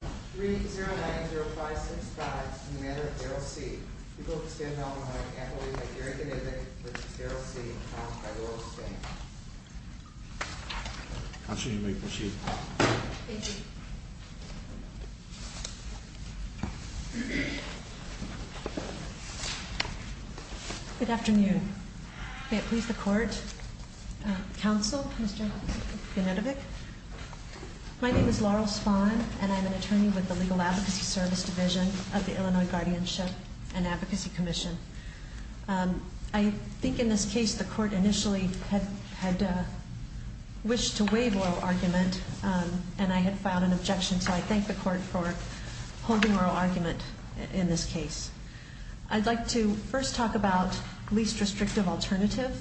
3-090-565, in the matter of Daryll C, people of the state of Alabama can't believe that Gary Venedig, which is Daryll C, was found by Laurel Spahn. I'll show you my receipt. Thank you. Good afternoon. May it please the court, counsel, Mr. Venedig. My name is Laurel Spahn, and I'm an attorney with the Legal Advocacy Service Division of the Illinois Guardianship and Advocacy Commission. I think in this case the court initially had wished to waive oral argument, and I had filed an objection, so I thank the court for holding oral argument in this case. I'd like to first talk about least restrictive alternative.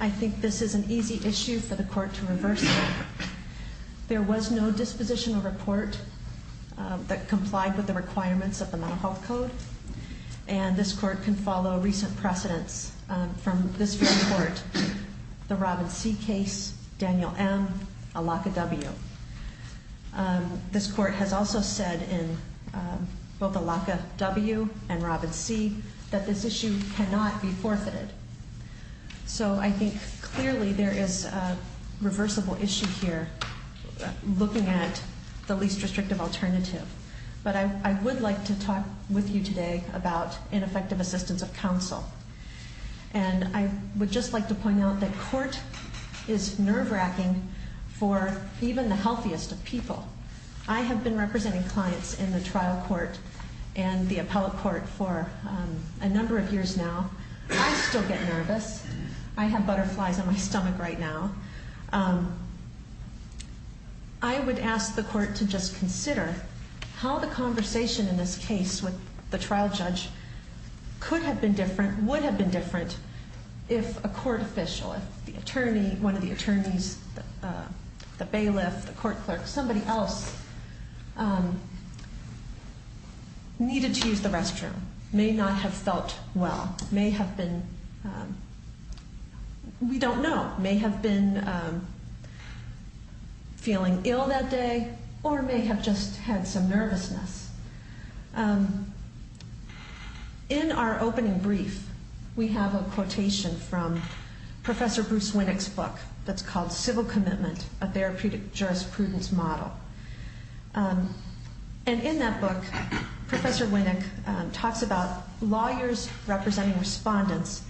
I think this is an easy issue for the court to reverse. There was no dispositional report that complied with the requirements of the Mental Health Code, and this court can follow recent precedents from this court, the Robin C case, Daniel M, Alaka W. This court has also said in both Alaka W and Robin C that this issue cannot be forfeited. So I think clearly there is a reversible issue here looking at the least restrictive alternative. But I would like to talk with you today about ineffective assistance of counsel. And I would just like to point out that court is nerve-wracking for even the healthiest of people. I have been representing clients in the trial court and the appellate court for a number of years now. I still get nervous. I have butterflies in my stomach right now. I would ask the court to just consider how the conversation in this case with the trial judge could have been different, would have been different if a court official, if the attorney, one of the attorneys, the bailiff, the court clerk, somebody else needed to use the restroom. May not have felt well. May have been, we don't know. May have been feeling ill that day or may have just had some nervousness. In our opening brief, we have a quotation from Professor Bruce Winnick's book that's called Civil Commitment, a Therapeutic Jurisprudence Model. And in that book, Professor Winnick talks about lawyers representing respondents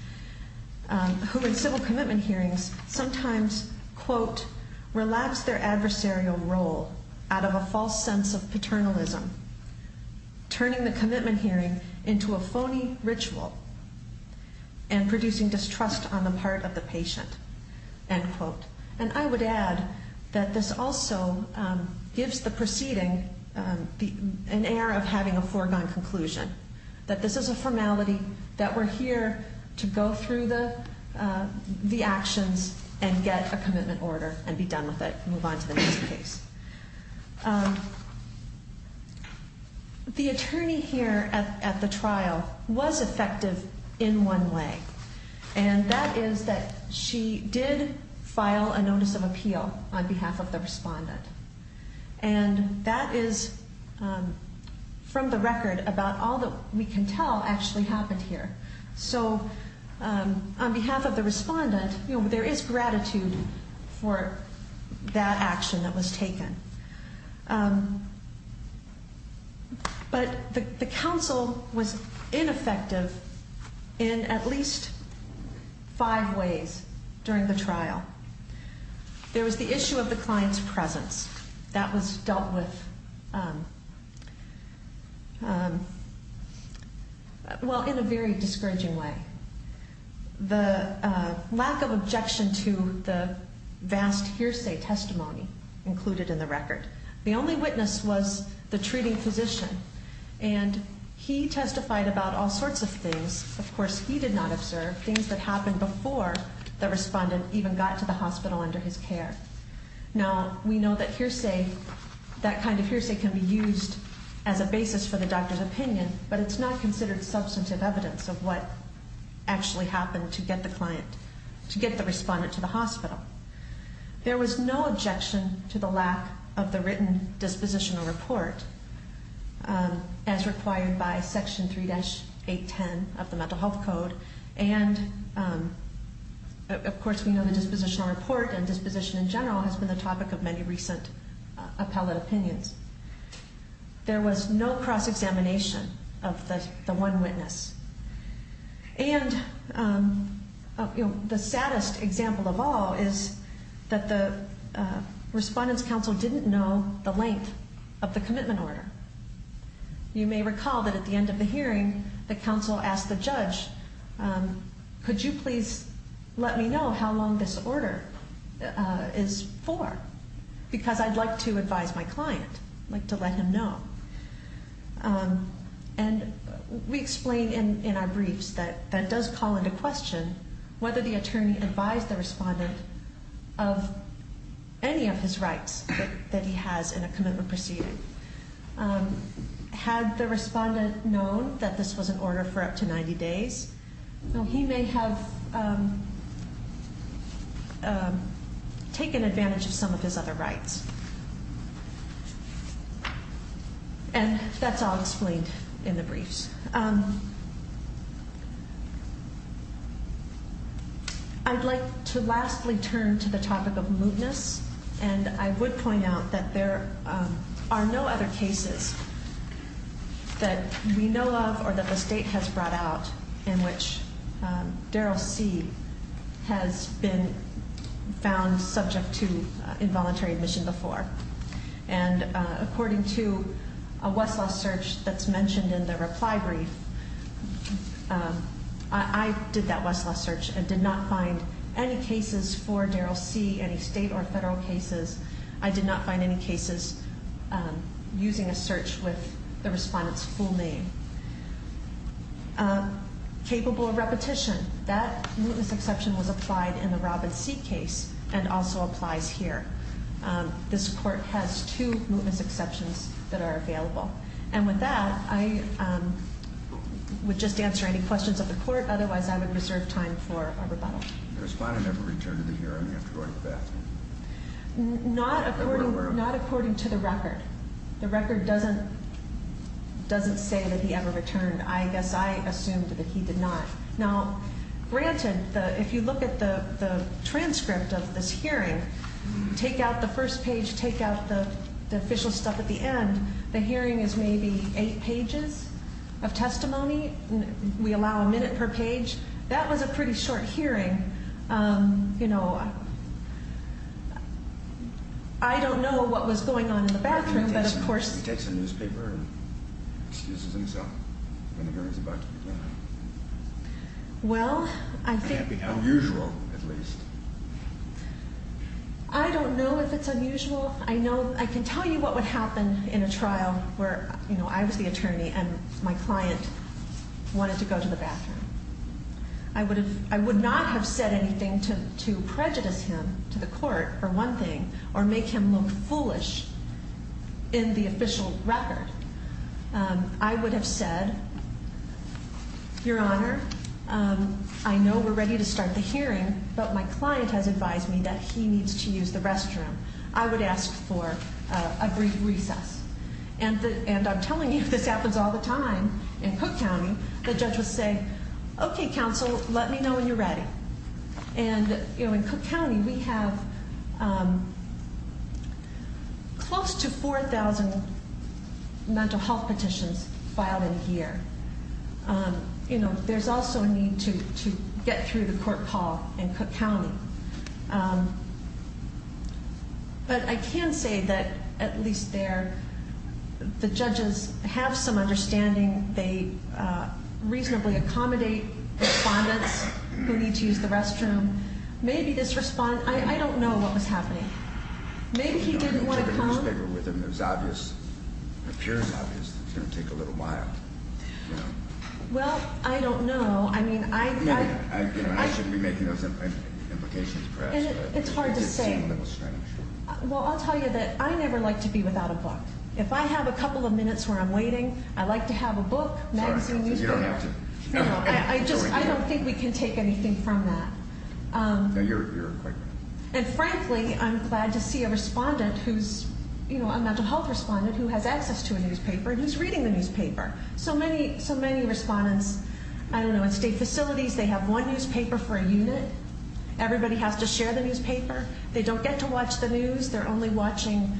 who in civil commitment hearings sometimes, quote, relapse their adversarial role out of a false sense of paternalism, turning the commitment hearing into a phony ritual and producing distrust on the part of the patient, end quote. And I would add that this also gives the proceeding an air of having a foregone conclusion. That this is a formality, that we're here to go through the actions and get a commitment order and be done with it, move on to the next case. The attorney here at the trial was effective in one way. And that is that she did file a notice of appeal on behalf of the respondent. And that is from the record about all that we can tell actually happened here. So on behalf of the respondent, there is gratitude for that action that was taken. But the counsel was ineffective in at least five ways during the trial. There was the issue of the client's presence. That was dealt with, well, in a very discouraging way. The lack of objection to the vast hearsay testimony included in the record. The only witness was the treating physician. And he testified about all sorts of things. Of course, he did not observe things that happened before the respondent even got to the hospital under his care. Now, we know that hearsay, that kind of hearsay can be used as a basis for the doctor's opinion. But it's not considered substantive evidence of what actually happened to get the client, to get the respondent to the hospital. There was no objection to the lack of the written dispositional report as required by Section 3-810 of the Mental Health Code. And, of course, we know the dispositional report and disposition in general has been the topic of many recent appellate opinions. There was no cross-examination of the one witness. And the saddest example of all is that the respondent's counsel didn't know the length of the commitment order. You may recall that at the end of the hearing, the counsel asked the judge, could you please let me know how long this order is for? Because I'd like to advise my client. I'd like to let him know. And we explain in our briefs that that does call into question whether the attorney advised the respondent of any of his rights that he has in a commitment proceeding. Had the respondent known that this was an order for up to 90 days, he may have taken advantage of some of his other rights. And that's all explained in the briefs. I'd like to lastly turn to the topic of mootness. And I would point out that there are no other cases that we know of or that the state has brought out in which Darrell C. has been found subject to involuntary admission before. And according to a Westlaw search that's mentioned in the reply brief, I did that Westlaw search and did not find any cases for Darrell C., any state or federal cases. I did not find any cases using a search with the respondent's full name. Capable of repetition, that mootness exception was applied in the Robin C. case and also applies here. This court has two mootness exceptions that are available. And with that, I would just answer any questions of the court. Otherwise, I would reserve time for a rebuttal. The respondent ever returned to the hearing after going to bed? Not according to the record. The record doesn't say that he ever returned. I guess I assumed that he did not. Now, granted, if you look at the transcript of this hearing, take out the first page, take out the official stuff at the end, the hearing is maybe eight pages of testimony. We allow a minute per page. That was a pretty short hearing. You know, I don't know what was going on in the bathroom, but of course. He takes a newspaper and excuses himself when the hearing is about to begin. Well, I think. It can't be unusual, at least. I don't know if it's unusual. I can tell you what would happen in a trial where, you know, I was the attorney and my client wanted to go to the bathroom. I would not have said anything to prejudice him to the court for one thing or make him look foolish in the official record. I would have said, Your Honor, I know we're ready to start the hearing, but my client has advised me that he needs to use the restroom. I would ask for a brief recess. And I'm telling you, this happens all the time in Cook County. The judge would say, Okay, counsel, let me know when you're ready. And, you know, in Cook County we have close to 4,000 mental health petitions filed in a year. You know, there's also a need to get through the court hall in Cook County. But I can say that, at least there, the judges have some understanding. They reasonably accommodate respondents who need to use the restroom. Maybe this respondent, I don't know what was happening. Maybe he didn't want to come. I took a newspaper with him. It was obvious. It appears obvious. It's going to take a little while. Well, I don't know. I shouldn't be making those implications, perhaps. It's hard to say. It did seem a little strange. Well, I'll tell you that I never like to be without a book. If I have a couple of minutes where I'm waiting, I like to have a book, magazine, newspaper. I don't think we can take anything from that. No, you're quite right. And, frankly, I'm glad to see a respondent who's, you know, a mental health respondent who has access to a newspaper and who's reading the newspaper. So many respondents, I don't know, at state facilities, they have one newspaper for a unit. Everybody has to share the newspaper. They don't get to watch the news. They're only watching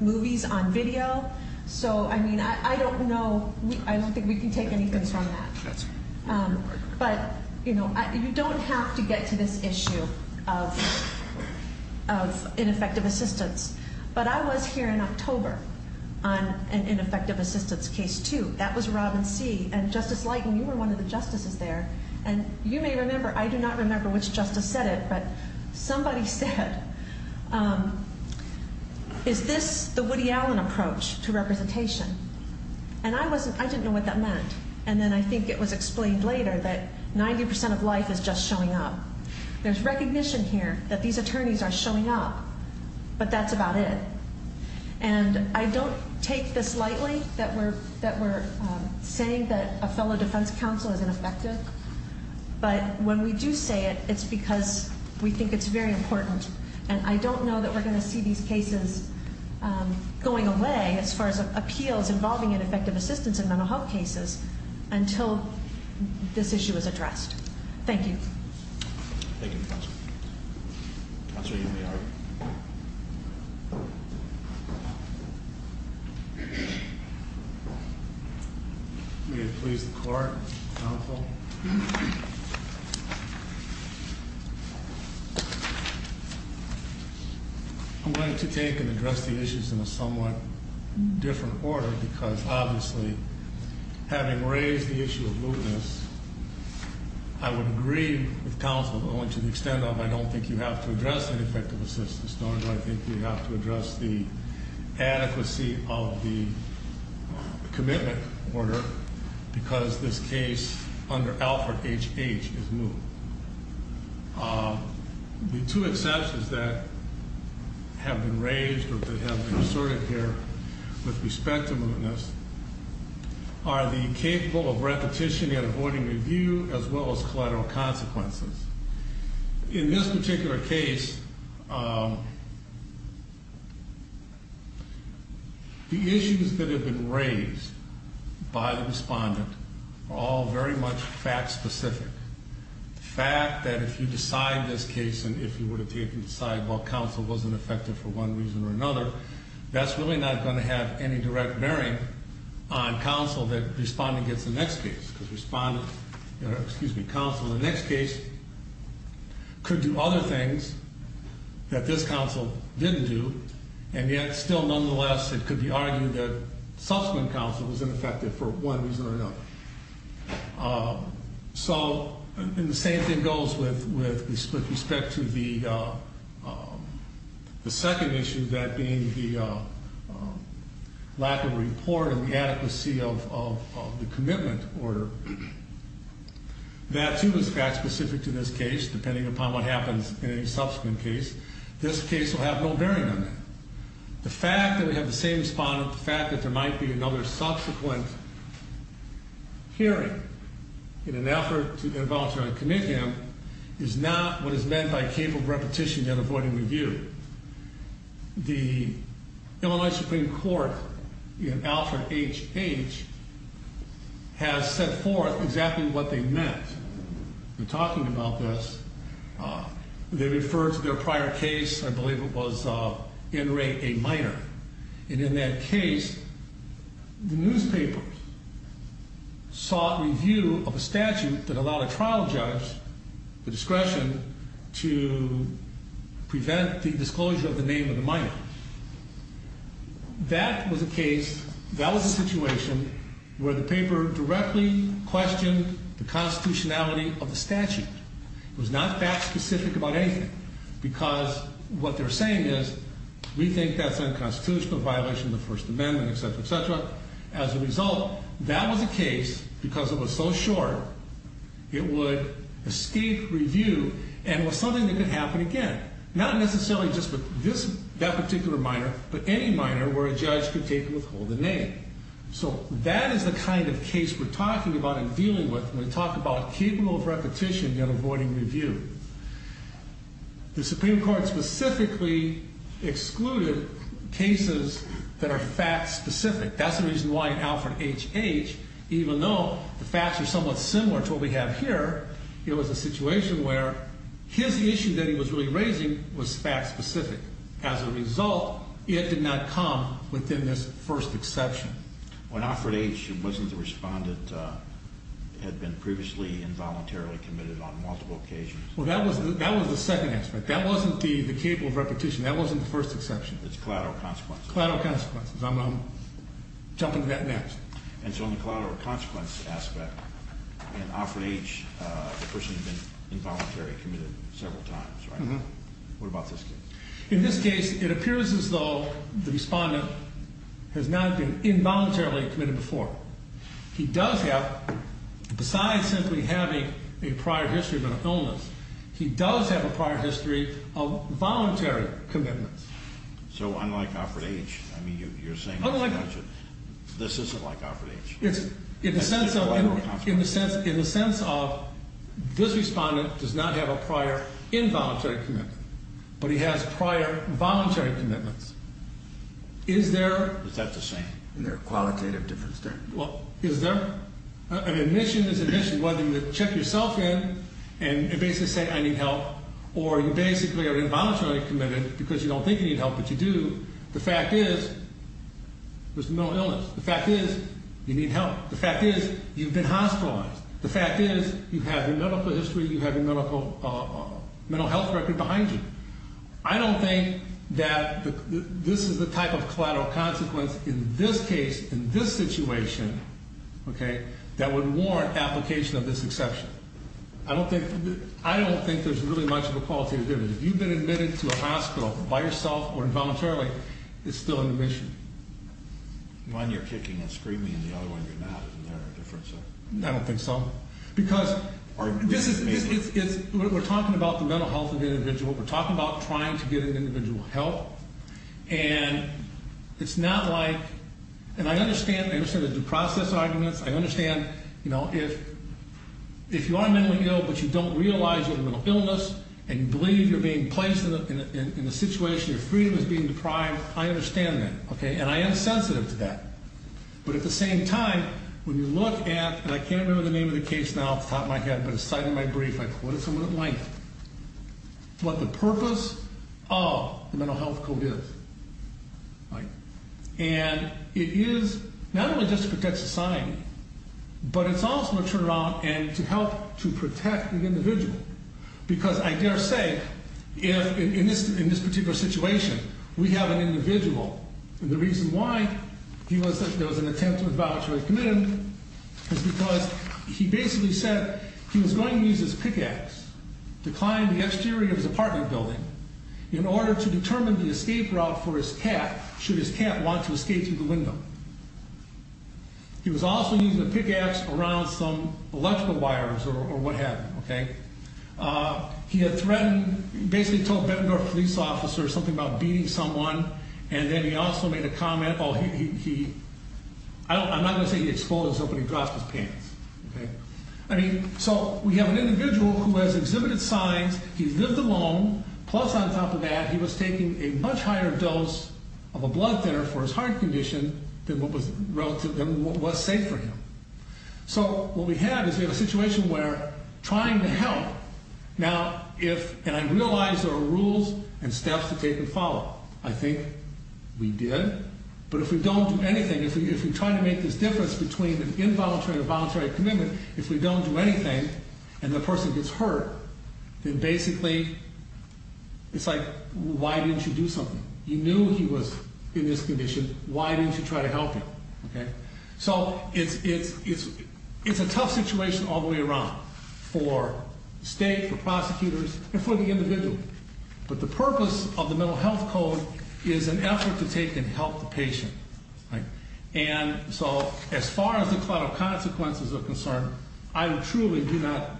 movies on video. So, I mean, I don't know. I don't think we can take anything from that. But, you know, you don't have to get to this issue of ineffective assistance. But I was here in October on an ineffective assistance case, too. That was Robin C. And, Justice Leighton, you were one of the justices there. And you may remember, I do not remember which justice said it, but somebody said, is this the Woody Allen approach to representation? And I didn't know what that meant. And then I think it was explained later that 90% of life is just showing up. There's recognition here that these attorneys are showing up. But that's about it. And I don't take this lightly that we're saying that a fellow defense counsel is ineffective. But when we do say it, it's because we think it's very important. And I don't know that we're going to see these cases going away as far as appeals involving ineffective assistance in mental health cases until this issue is addressed. Thank you. Thank you, Counsel. Counsel, you may argue. May it please the Court. Counsel. I'm going to take and address the issues in a somewhat different order because, obviously, having raised the issue of lewdness, I would agree with Counsel only to the extent of I don't think you have to address ineffective assistance, nor do I think you have to address the adequacy of the commitment order because this case under Alfred H. H. is lewd. The two exceptions that have been raised or that have been asserted here with respect to lewdness are the capable of repetition and avoiding review as well as collateral consequences. In this particular case, the issues that have been raised by the respondent are all very much fact specific. The fact that if you decide this case and if you were to take and decide, well, Counsel wasn't effective for one reason or another, that's really not going to have any direct bearing on Counsel that respond against the next case because Respondent, excuse me, Counsel in the next case could do other things that this Counsel didn't do, and yet still, nonetheless, it could be argued that subsequent Counsel was ineffective for one reason or another. So the same thing goes with respect to the second issue, that being the lack of report and the adequacy of the commitment order. That, too, is fact specific to this case. Depending upon what happens in any subsequent case, this case will have no bearing on it. The fact that we have the same respondent, the fact that there might be another subsequent hearing in an effort to involuntarily commit him, is not what is meant by capable of repetition and avoiding review. The Illinois Supreme Court in Alfred H. H. has set forth exactly what they meant in talking about this. They referred to their prior case, I believe it was In Re, a minor. And in that case, the newspaper sought review of a statute that allowed a trial judge the discretion to prevent the disclosure of the name of the minor. That was a case, that was a situation where the paper directly questioned the constitutionality of the statute. It was not fact specific about anything, because what they're saying is, we think that's unconstitutional, a violation of the First Amendment, etc., etc. As a result, that was a case, because it was so short, it would escape review and was something that could happen again. Not necessarily just with that particular minor, but any minor where a judge could take and withhold the name. So that is the kind of case we're talking about and dealing with when we talk about capable of repetition and avoiding review. The Supreme Court specifically excluded cases that are fact specific. That's the reason why in Alfred H. H., even though the facts are somewhat similar to what we have here, it was a situation where his issue that he was really raising was fact specific. As a result, it did not come within this first exception. When Alfred H., wasn't the respondent had been previously involuntarily committed on multiple occasions? Well, that was the second aspect. That wasn't the capable of repetition. That wasn't the first exception. It's collateral consequences. Collateral consequences. I'm jumping to that next. And so on the collateral consequence aspect, in Alfred H., the person had been involuntarily committed several times, right? What about this case? In this case, it appears as though the respondent has not been involuntarily committed before. He does have, besides simply having a prior history of an illness, he does have a prior history of voluntary commitments. So unlike Alfred H., I mean, you're saying this isn't like Alfred H. In the sense of this respondent does not have a prior involuntary commitment, but he has prior voluntary commitments. Is there? Is that the same? Is there a qualitative difference there? Well, is there? An admission is an admission. Whether you check yourself in and basically say, I need help, or you basically are involuntarily committed because you don't think you need help, but you do. The fact is, there's no illness. The fact is, you need help. The fact is, you've been hospitalized. The fact is, you have your medical history, you have your mental health record behind you. I don't think that this is the type of collateral consequence in this case, in this situation, okay, that would warrant application of this exception. I don't think there's really much of a qualitative difference. If you've been admitted to a hospital by yourself or involuntarily, it's still an admission. One, you're kicking and screaming, and the other one, you're not. Is there a difference there? I don't think so. Because this is, we're talking about the mental health of the individual. We're talking about trying to get an individual help, and it's not like, and I understand the process arguments. I understand, you know, if you are mentally ill, but you don't realize you have a mental illness and you believe you're being placed in a situation, your freedom is being deprived, I understand that, okay, and I am sensitive to that. But at the same time, when you look at, and I can't remember the name of the case now off the top of my head, but it's cited in my brief, I quoted someone at length, what the purpose of the mental health code is, right, and it is not only just to protect society, but it's also to turn it around and to help to protect the individual because I dare say, in this particular situation, we have an individual, and the reason why he was, there was an attempt to evaluate a commitment, is because he basically said he was going to use his pickaxe to climb the exterior of his apartment building in order to determine the escape route for his cat, should his cat want to escape through the window. He was also using the pickaxe around some electrical wires or what have you, okay. He had threatened, basically told Bettendorf police officers something about beating someone and then he also made a comment, oh, he, I'm not going to say he exposed himself, but he dropped his pants, okay. I mean, so we have an individual who has exhibited signs, he's lived alone, plus on top of that, he was taking a much higher dose of a blood thinner for his heart condition than what was safe for him. So what we have is we have a situation where trying to help, now if, and I realize there are rules and steps to take and follow. I think we did, but if we don't do anything, if we try to make this difference between an involuntary or voluntary commitment, if we don't do anything and the person gets hurt, then basically, it's like, why didn't you do something? You knew he was in this condition, why didn't you try to help him? So it's a tough situation all the way around, for state, for prosecutors, and for the individual. But the purpose of the Mental Health Code is an effort to take and help the patient. And so as far as the collateral consequences are concerned, I truly do not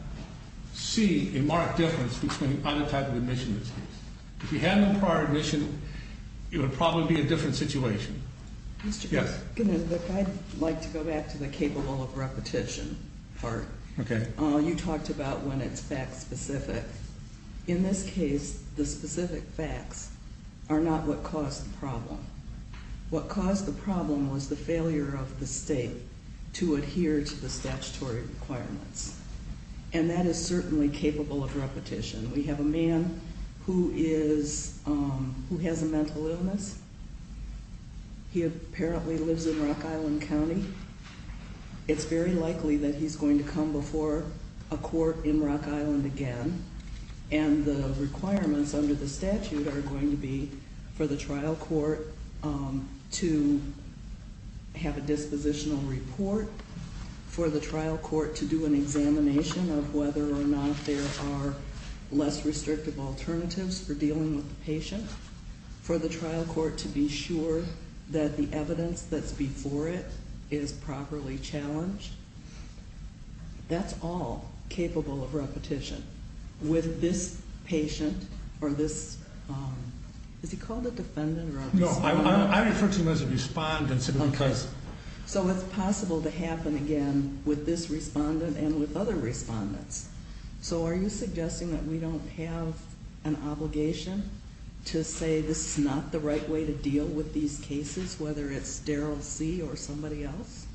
see a marked difference between either type of admission in this case. If he had no prior admission, it would probably be a different situation. Yes? I'd like to go back to the capable of repetition part. Okay. You talked about when it's fact specific. In this case, the specific facts are not what caused the problem. What caused the problem was the failure of the state to adhere to the statutory requirements. And that is certainly capable of repetition. We have a man who is, who has a mental illness. He apparently lives in Rock Island County. It's very likely that he's going to come before a court in Rock Island again. And the requirements under the statute are going to be for the trial court to have a dispositional report. For the trial court to do an examination of whether or not there are less restrictive alternatives for dealing with the patient. For the trial court to be sure that the evidence that's before it is properly challenged. That's all capable of repetition. With this patient, or this, is he called a defendant or a respondent? No, I refer to him as a respondent simply because. So it's possible to happen again with this respondent and with other respondents. So are you suggesting that we don't have an obligation to say this is not the right way to deal with these cases? Whether it's Darryl C or somebody else?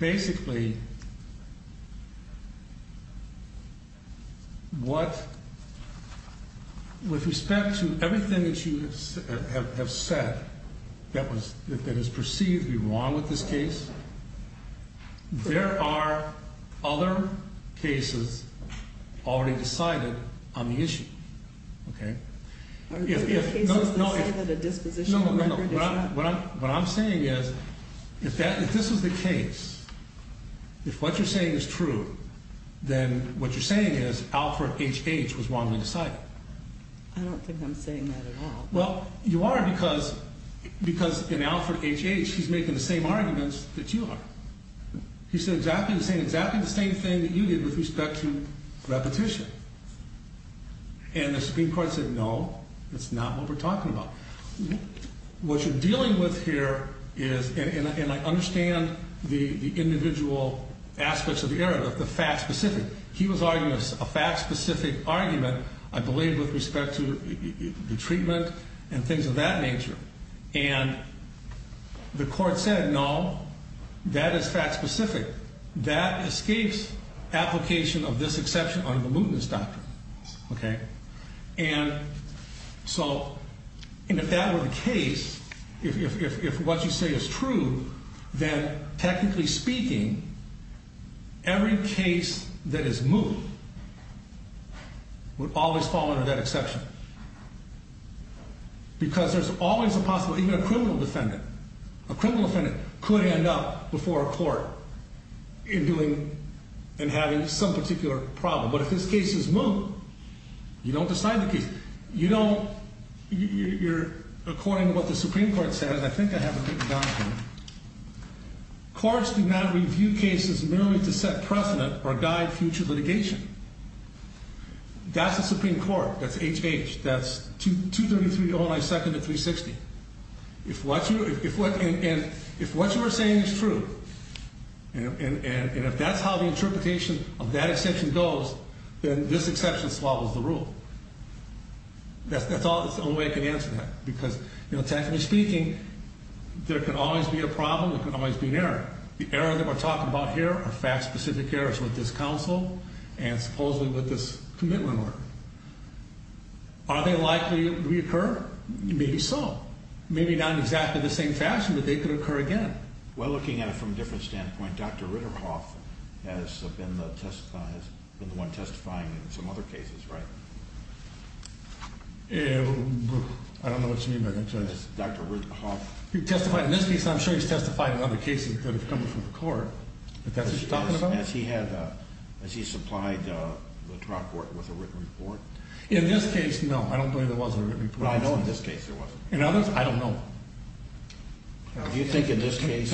Basically, with respect to everything that you have said that is perceived to be wrong with this case. There are other cases already decided on the issue. What I'm saying is, if this is the case, if what you're saying is true, then what you're saying is Alfred H. H. was wrongly decided. I don't think I'm saying that at all. Well, you are because in Alfred H. H. he's making the same arguments that you are. He's saying exactly the same thing that you did with respect to repetition. And the Supreme Court said, no, that's not what we're talking about. What you're dealing with here is, and I understand the individual aspects of the error, the fact specific. He was arguing a fact specific argument, I believe, with respect to the treatment and things of that nature. And the court said, no, that is fact specific. That escapes application of this exception under the mootness doctrine. And so if that were the case, if what you say is true, then technically speaking, every case that is moot would always fall under that exception. Because there's always a possible, even a criminal defendant, a criminal defendant could end up before a court in having some particular problem. But if this case is moot, you don't decide the case. You don't, you're according to what the Supreme Court said, and I think I have it written down here. Courts do not review cases merely to set precedent or guide future litigation. That's the Supreme Court. That's HH. That's 233-09-2nd of 360. If what you are saying is true, and if that's how the interpretation of that exception goes, then this exception swallows the rule. That's the only way I can answer that. Because technically speaking, there can always be a problem. There can always be an error. The error that we're talking about here are fact-specific errors with this counsel and supposedly with this commitment order. Are they likely to reoccur? Maybe so. Maybe not in exactly the same fashion, but they could occur again. Well, looking at it from a different standpoint, Dr. Ritterhoff has been the one testifying in some other cases, right? I don't know what you mean by that. Dr. Ritterhoff. He testified in this case, and I'm sure he's testified in other cases that have come before the court, but that's what you're talking about? Has he supplied the trial court with a written report? In this case, no. I don't believe there was a written report. Well, I know in this case there wasn't. In others, I don't know. Do you think in this case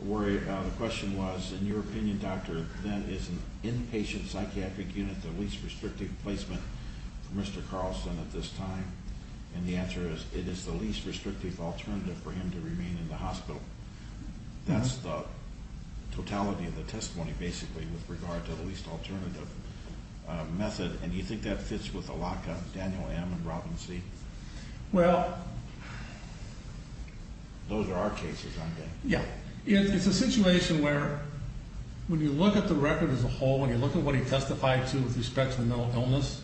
where the question was, in your opinion, Doctor, that is an inpatient psychiatric unit the least restrictive placement for Mr. Carlson at this time? And the answer is it is the least restrictive alternative for him to remain in the hospital. That's the totality of the testimony, basically, with regard to the least alternative method. And do you think that fits with the lock on Daniel M. and Robin C.? Well... Those are our cases, aren't they? Yeah. It's a situation where when you look at the record as a whole, when you look at what he testified to with respect to the mental illness,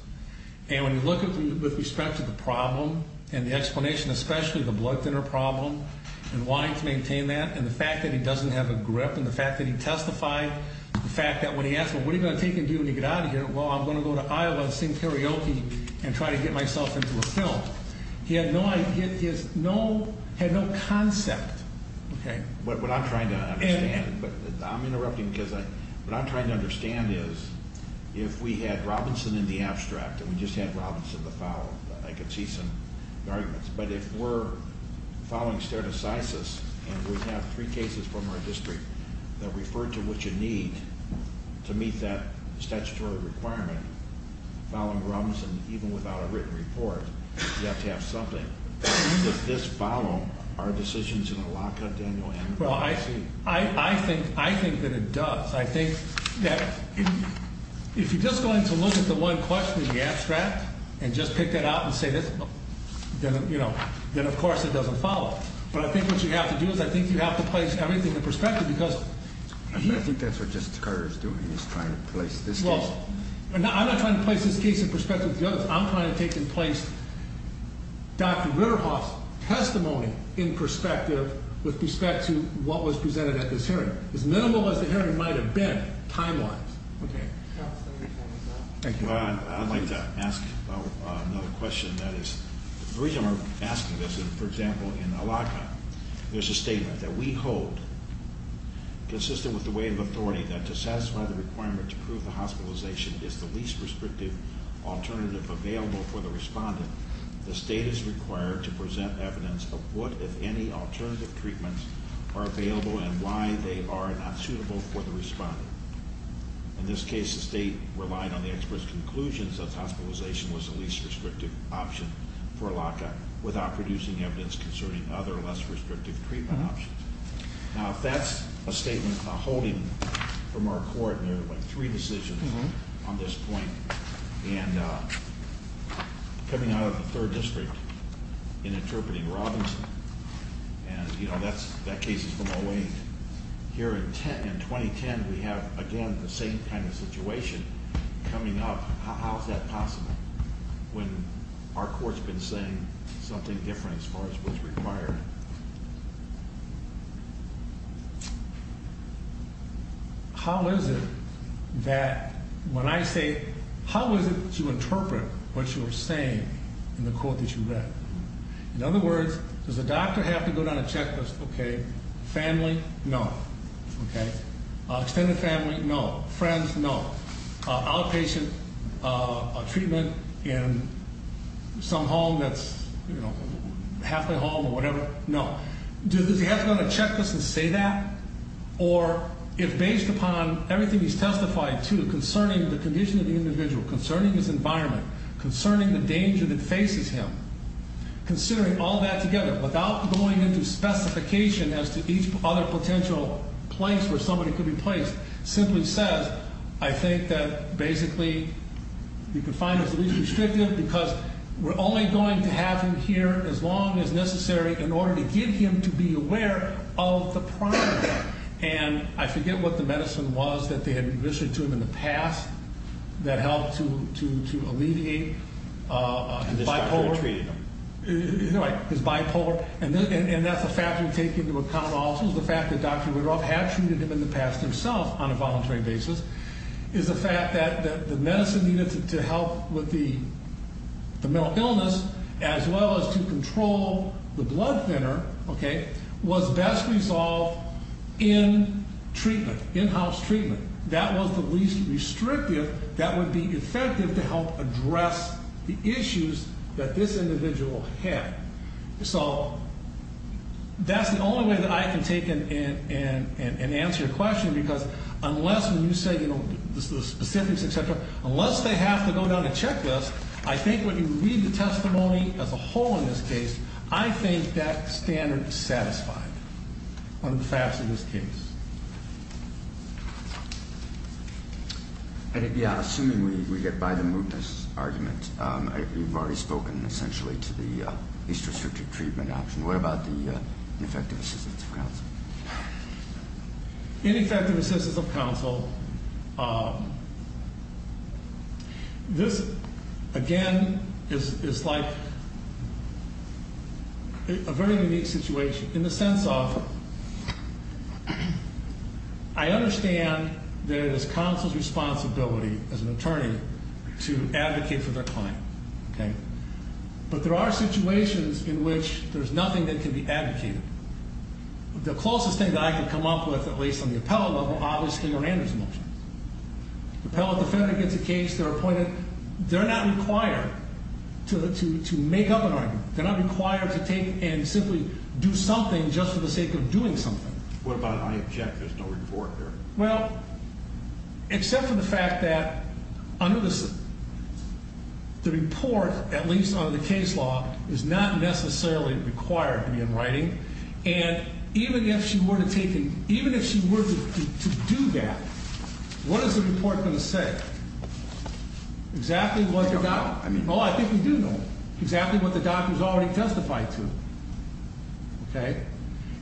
and when you look with respect to the problem and the explanation, especially the blood thinner problem and wanting to maintain that, and the fact that he doesn't have a grip and the fact that he testified, the fact that when he asked, well, what are you going to take and do when you get out of here? Well, I'm going to go to Iowa and sing karaoke and try to get myself into a film. He had no idea. He had no concept. Okay. What I'm trying to understand is if we had Robinson in the abstract and we just had Robinson to follow, I could see some arguments. But if we're following stare decisis and we have three cases from our district that refer to what you need to meet that statutory requirement, following Robinson even without a written report, you have to have something. Does this follow our decisions in the lockup, Daniel? Well, I think that it does. I think that if you're just going to look at the one question in the abstract and just pick that out and say this, then, of course, it doesn't follow. But I think what you have to do is I think you have to place everything in perspective. I think that's what Justice Carter is doing. He's trying to place this case. I'm not trying to place this case in perspective with the others. I'm trying to take in place Dr. Ritterhoff's testimony in perspective with respect to what was presented at this hearing. As minimal as the hearing might have been, time-wise. Okay. Thank you. I'd like to ask another question. That is the reason we're asking this is, for example, in a lockup, there's a statement that we hold consistent with the weight of authority that to satisfy the requirement to prove the hospitalization is the least restrictive alternative available for the respondent, the state is required to present evidence of what, if any, alternative treatments are available and why they are not suitable for the respondent. In this case, the state relied on the expert's conclusions that hospitalization was the least restrictive option for a lockup without producing evidence concerning other less restrictive treatment options. Now, if that's a statement holding from our court and there are, like, three decisions on this point, and coming out of the third district and interpreting Robinson, and, you know, that case is from 08. Here in 2010, we have, again, the same kind of situation coming up. How is that possible when our court's been saying something different as far as what's required? How is it that when I say, how is it that you interpret what you're saying in the court that you read? In other words, does the doctor have to go down a checklist? Okay. Family? No. Okay. Extended family? No. Friends? No. Outpatient treatment in some home that's, you know, halfway home or whatever? No. Does he have to go down a checklist and say that? Or, if based upon everything he's testified to concerning the condition of the individual, concerning his environment, concerning the danger that faces him, considering all that together, without going into specification as to each other potential place where somebody could be placed, simply says, I think that, basically, you can find it's least restrictive, because we're only going to have him here as long as necessary in order to get him to be aware of the problem. And I forget what the medicine was that they had administered to him in the past that helped to alleviate bipolar. His bipolar, and that's a factor to take into account also. The fact that Dr. Woodruff had treated him in the past himself on a voluntary basis is a fact that the medicine needed to help with the mental illness as well as to control the blood thinner, okay, was best resolved in treatment, in-house treatment. That was the least restrictive that would be effective to help address the issues that this individual had. So that's the only way that I can take and answer your question, because unless when you say, you know, the specifics, et cetera, unless they have to go down a checklist, I think when you read the testimony as a whole in this case, I think that standard is satisfied under the facts of this case. Yeah, assuming we get by the mootness argument, you've already spoken essentially to the least restrictive treatment option. What about the ineffective assistance of counsel? Ineffective assistance of counsel, this, again, is like a very unique situation in the sense of I understand that it is counsel's responsibility as an attorney to advocate for their client, okay? But there are situations in which there's nothing that can be advocated. The closest thing that I can come up with, at least on the appellate level, obviously, are Andrew's motions. Appellate defendant gets a case. They're appointed. They're not required to make up an argument. They're not required to take and simply do something just for the sake of doing something. What about I object? There's no report there. Well, except for the fact that under the report, at least under the case law, is not necessarily required to be in writing. And even if she were to take and even if she were to do that, what is the report going to say? Exactly what the doctor... I mean... Well, I think we do know exactly what the doctor's already testified to, okay?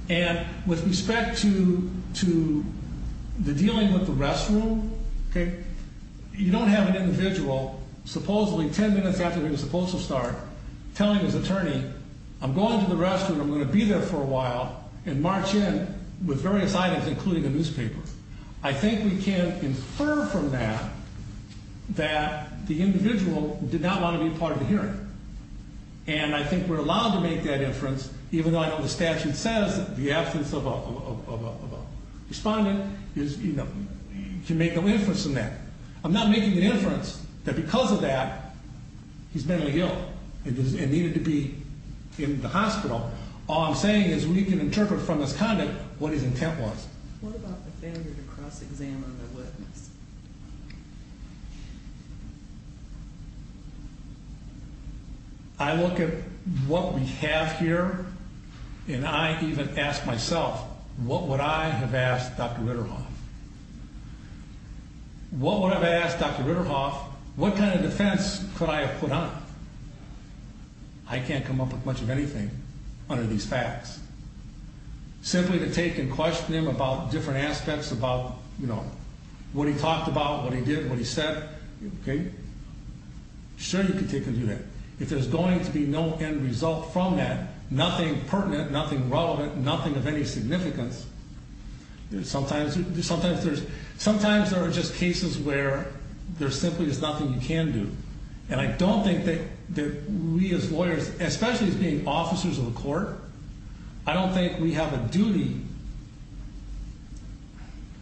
And with respect to the dealing with the restroom, okay, you don't have an individual supposedly 10 minutes after he was supposed to start telling his attorney, I'm going to the restroom. I'm going to be there for a while and march in with various items, including a newspaper. I think we can infer from that that the individual did not want to be part of the hearing. And I think we're allowed to make that inference, even though I know the statute says that the absence of a respondent can make no inference in that. I'm not making the inference that because of that, he's mentally ill and needed to be in the hospital. All I'm saying is we can interpret from his conduct what his intent was. What about the failure to cross-examine the witness? I look at what we have here, and I even ask myself, what would I have asked Dr. Ritterhoff? What would I have asked Dr. Ritterhoff? What kind of defense could I have put on? I can't come up with much of anything under these facts. Simply to take and question him about different aspects about, you know, what he talked about, what he did, what he said, okay? Sure, you can take and do that. If there's going to be no end result from that, nothing pertinent, nothing relevant, nothing of any significance, sometimes there are just cases where there simply is nothing you can do. And I don't think that we as lawyers, especially as being officers of the court, I don't think we have a duty,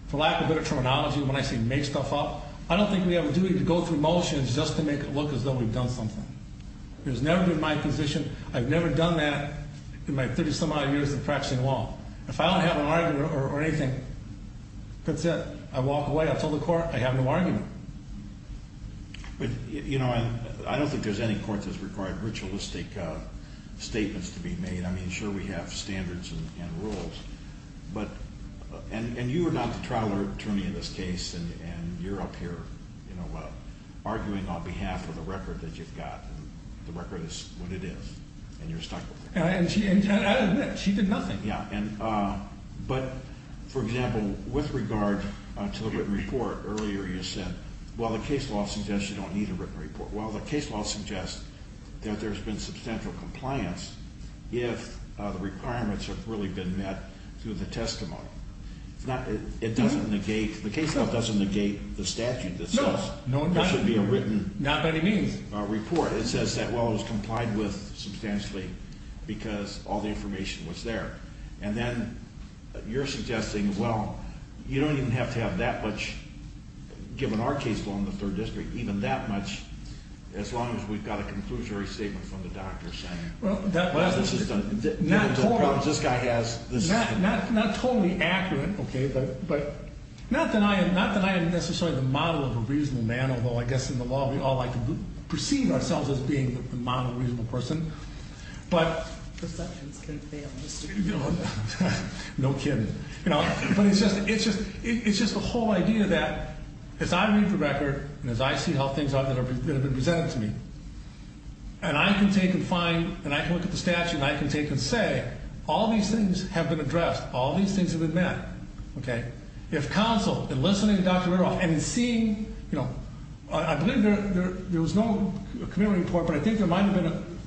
for lack of better terminology when I say make stuff up, I don't think we have a duty to go through motions just to make it look as though we've done something. It has never been my position. I've never done that in my 30-some-odd years of practicing law. If I don't have an argument or anything, that's it. I walk away. I fill the court. I have no argument. But, you know, I don't think there's any court that's required ritualistic statements to be made. I mean, sure, we have standards and rules, but, and you are not the trial attorney in this case, and you're up here, you know, arguing on behalf of the record that you've got, and the record is what it is, and you're stuck with it. And I admit, she did nothing. But, for example, with regard to the written report, earlier you said, well, the case law suggests you don't need a written report. Well, the case law suggests that there's been substantial compliance if the requirements have really been met through the testimony. It doesn't negate, the case law doesn't negate the statute that says there should be a written report. It says that, well, it was complied with substantially because all the information was there. And then you're suggesting, well, you don't even have to have that much, given our case law in the 3rd District, even that much, as long as we've got a conclusory statement from the doctor saying, well, this is the medical problems this guy has. Not totally accurate, okay, but not that I am necessarily the model of a reasonable man, although I guess in the law we all like to perceive ourselves as being the model of a reasonable person. But... Perceptions can fail. No kidding. But it's just the whole idea that, as I read the record, and as I see how things are that have been presented to me, and I can take and find, and I can look at the statute, and I can take and say, all these things have been addressed. All these things have been met. Okay. If counsel, in listening to Dr. Ritteroff, and in seeing, you know, I believe there was no community report, but I think there might have been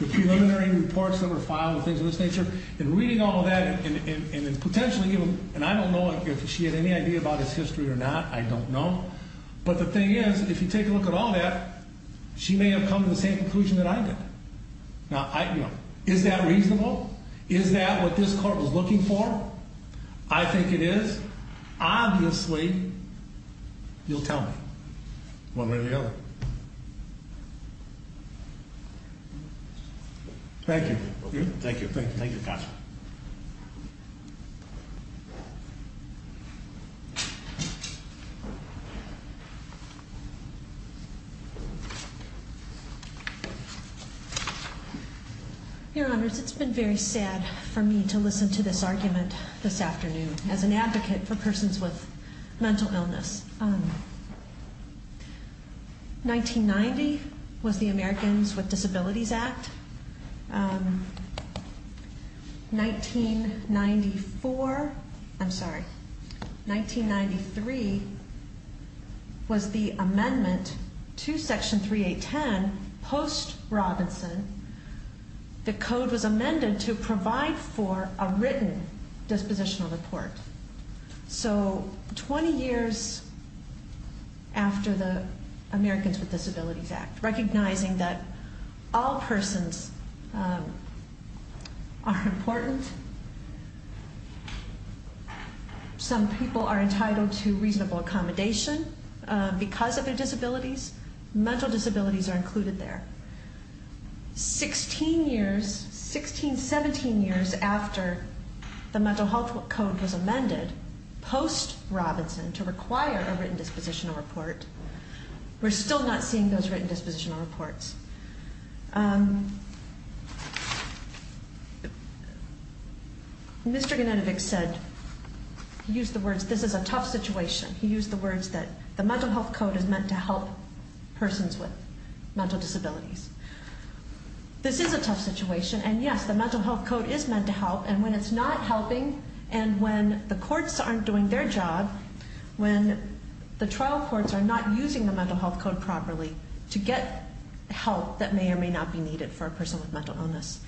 the preliminary reports that were filed and things of this nature. In reading all of that, and in potentially even, and I don't know if she had any idea about his history or not. I don't know. But the thing is, if you take a look at all that, she may have come to the same conclusion that I did. Now, you know, is that reasonable? Is that what this court was looking for? I think it is. Obviously, you'll tell me. One way or the other. Thank you. Thank you. Thank you, counsel. Thank you. Your Honors, it's been very sad for me to listen to this argument this afternoon, as an advocate for persons with mental illness. 1990 was the Americans with Disabilities Act. 1994, I'm sorry, 1993 was the amendment to Section 3.8.10 post-Robinson. The code was amended to provide for a written dispositional report. So 20 years after the Americans with Disabilities Act, recognizing that all persons are important. Some people are entitled to reasonable accommodation because of their disabilities. Mental disabilities are included there. Sixteen years, 16, 17 years after the mental health code was amended post-Robinson to require a written dispositional report, we're still not seeing those written dispositional reports. Mr. Genetovic said, he used the words, this is a tough situation. He used the words that the mental health code is meant to help persons with mental disabilities. This is a tough situation, and yes, the mental health code is meant to help, and when it's not helping, and when the courts aren't doing their job, when the trial courts are not using the mental health code properly to get help that may or may not be needed for a person with mental illness,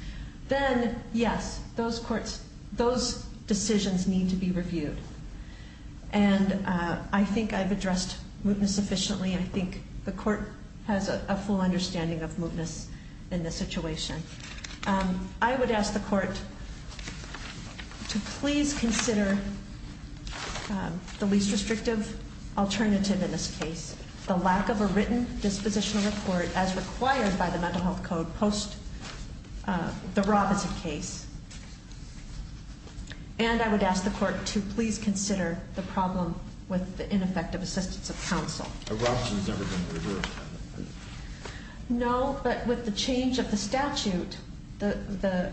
then, yes, those decisions need to be reviewed. And I think I've addressed mootness sufficiently, and I think the court has a full understanding of mootness in this situation. I would ask the court to please consider the least restrictive alternative in this case, the lack of a written dispositional report as required by the mental health code post-the Robinson case. And I would ask the court to please consider the problem with the ineffective assistance of counsel. No, but with the change of the statute, the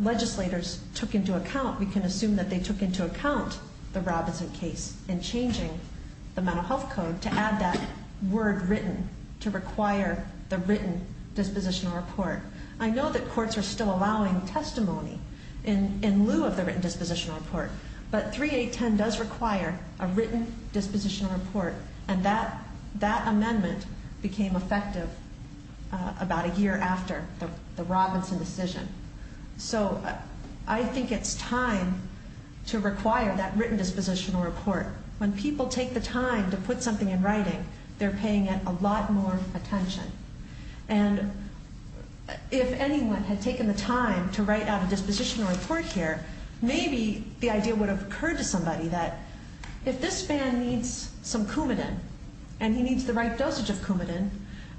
legislators took into account, we can assume that they took into account the Robinson case in changing the mental health code to add that word written to require the written dispositional report. I know that courts are still allowing testimony in lieu of the written dispositional report, but 3810 does require a written dispositional report, and that amendment became effective about a year after the Robinson decision. So I think it's time to require that written dispositional report. When people take the time to put something in writing, they're paying it a lot more attention. And if anyone had taken the time to write out a dispositional report here, maybe the idea would have occurred to somebody that if this man needs some Coumadin and he needs the right dosage of Coumadin,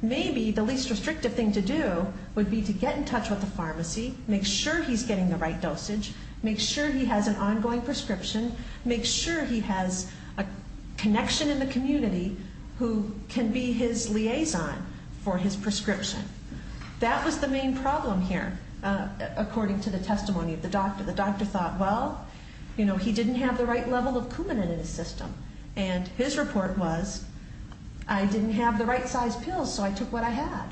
maybe the least restrictive thing to do would be to get in touch with the pharmacy, make sure he's getting the right dosage, make sure he has an ongoing prescription, make sure he has a connection in the community who can be his liaison for his prescription. That was the main problem here, according to the testimony of the doctor. The doctor thought, well, you know, he didn't have the right level of Coumadin in his system, and his report was, I didn't have the right size pills, so I took what I had.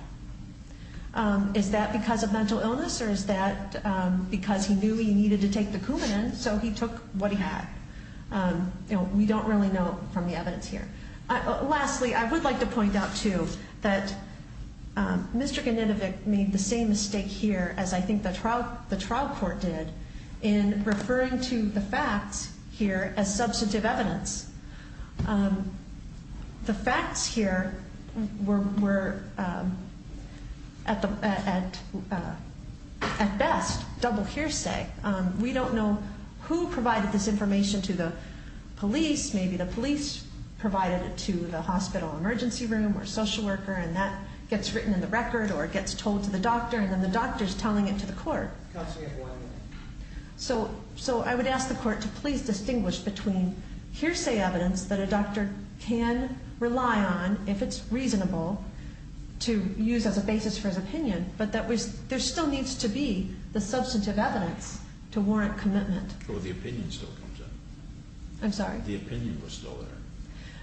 Is that because of mental illness, or is that because he knew he needed to take the Coumadin, so he took what he had? We don't really know from the evidence here. Lastly, I would like to point out, too, that Mr. Ganinovic made the same mistake here as I think the trial court did in referring to the facts here as substantive evidence. The facts here were at best double hearsay. We don't know who provided this information to the police. Maybe the police provided it to the hospital emergency room or social worker, and that gets written in the record, or it gets told to the doctor, and then the doctor is telling it to the court. So I would ask the court to please distinguish between hearsay evidence that a doctor can rely on if it's reasonable to use as a basis for his opinion, but there still needs to be the substantive evidence to warrant commitment. But the opinion still comes in. I'm sorry? The opinion was still there.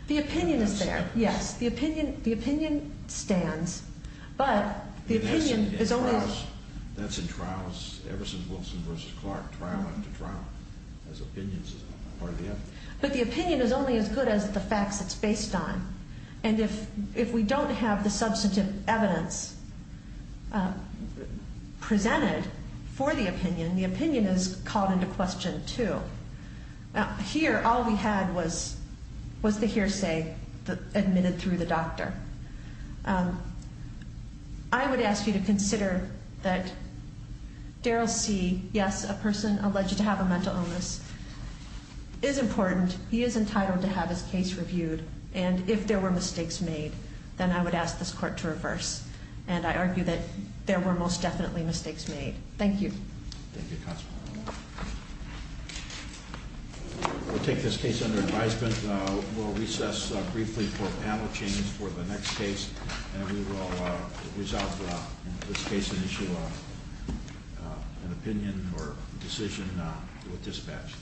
The opinion is there, yes. The opinion stands, but the opinion is only as good as the facts it's based on. And if we don't have the substantive evidence presented for the opinion, the opinion is called into question, too. Here, all we had was the hearsay admitted through the doctor. I would ask you to consider that Daryl C., yes, a person alleged to have a mental illness, is important. He is entitled to have his case reviewed. And if there were mistakes made, then I would ask this court to reverse, and I argue that there were most definitely mistakes made. Thank you. Thank you, Constable. We'll take this case under advisement. We'll recess briefly for a panel change for the next case, and we will resolve in this case and issue an opinion or decision with dispatch.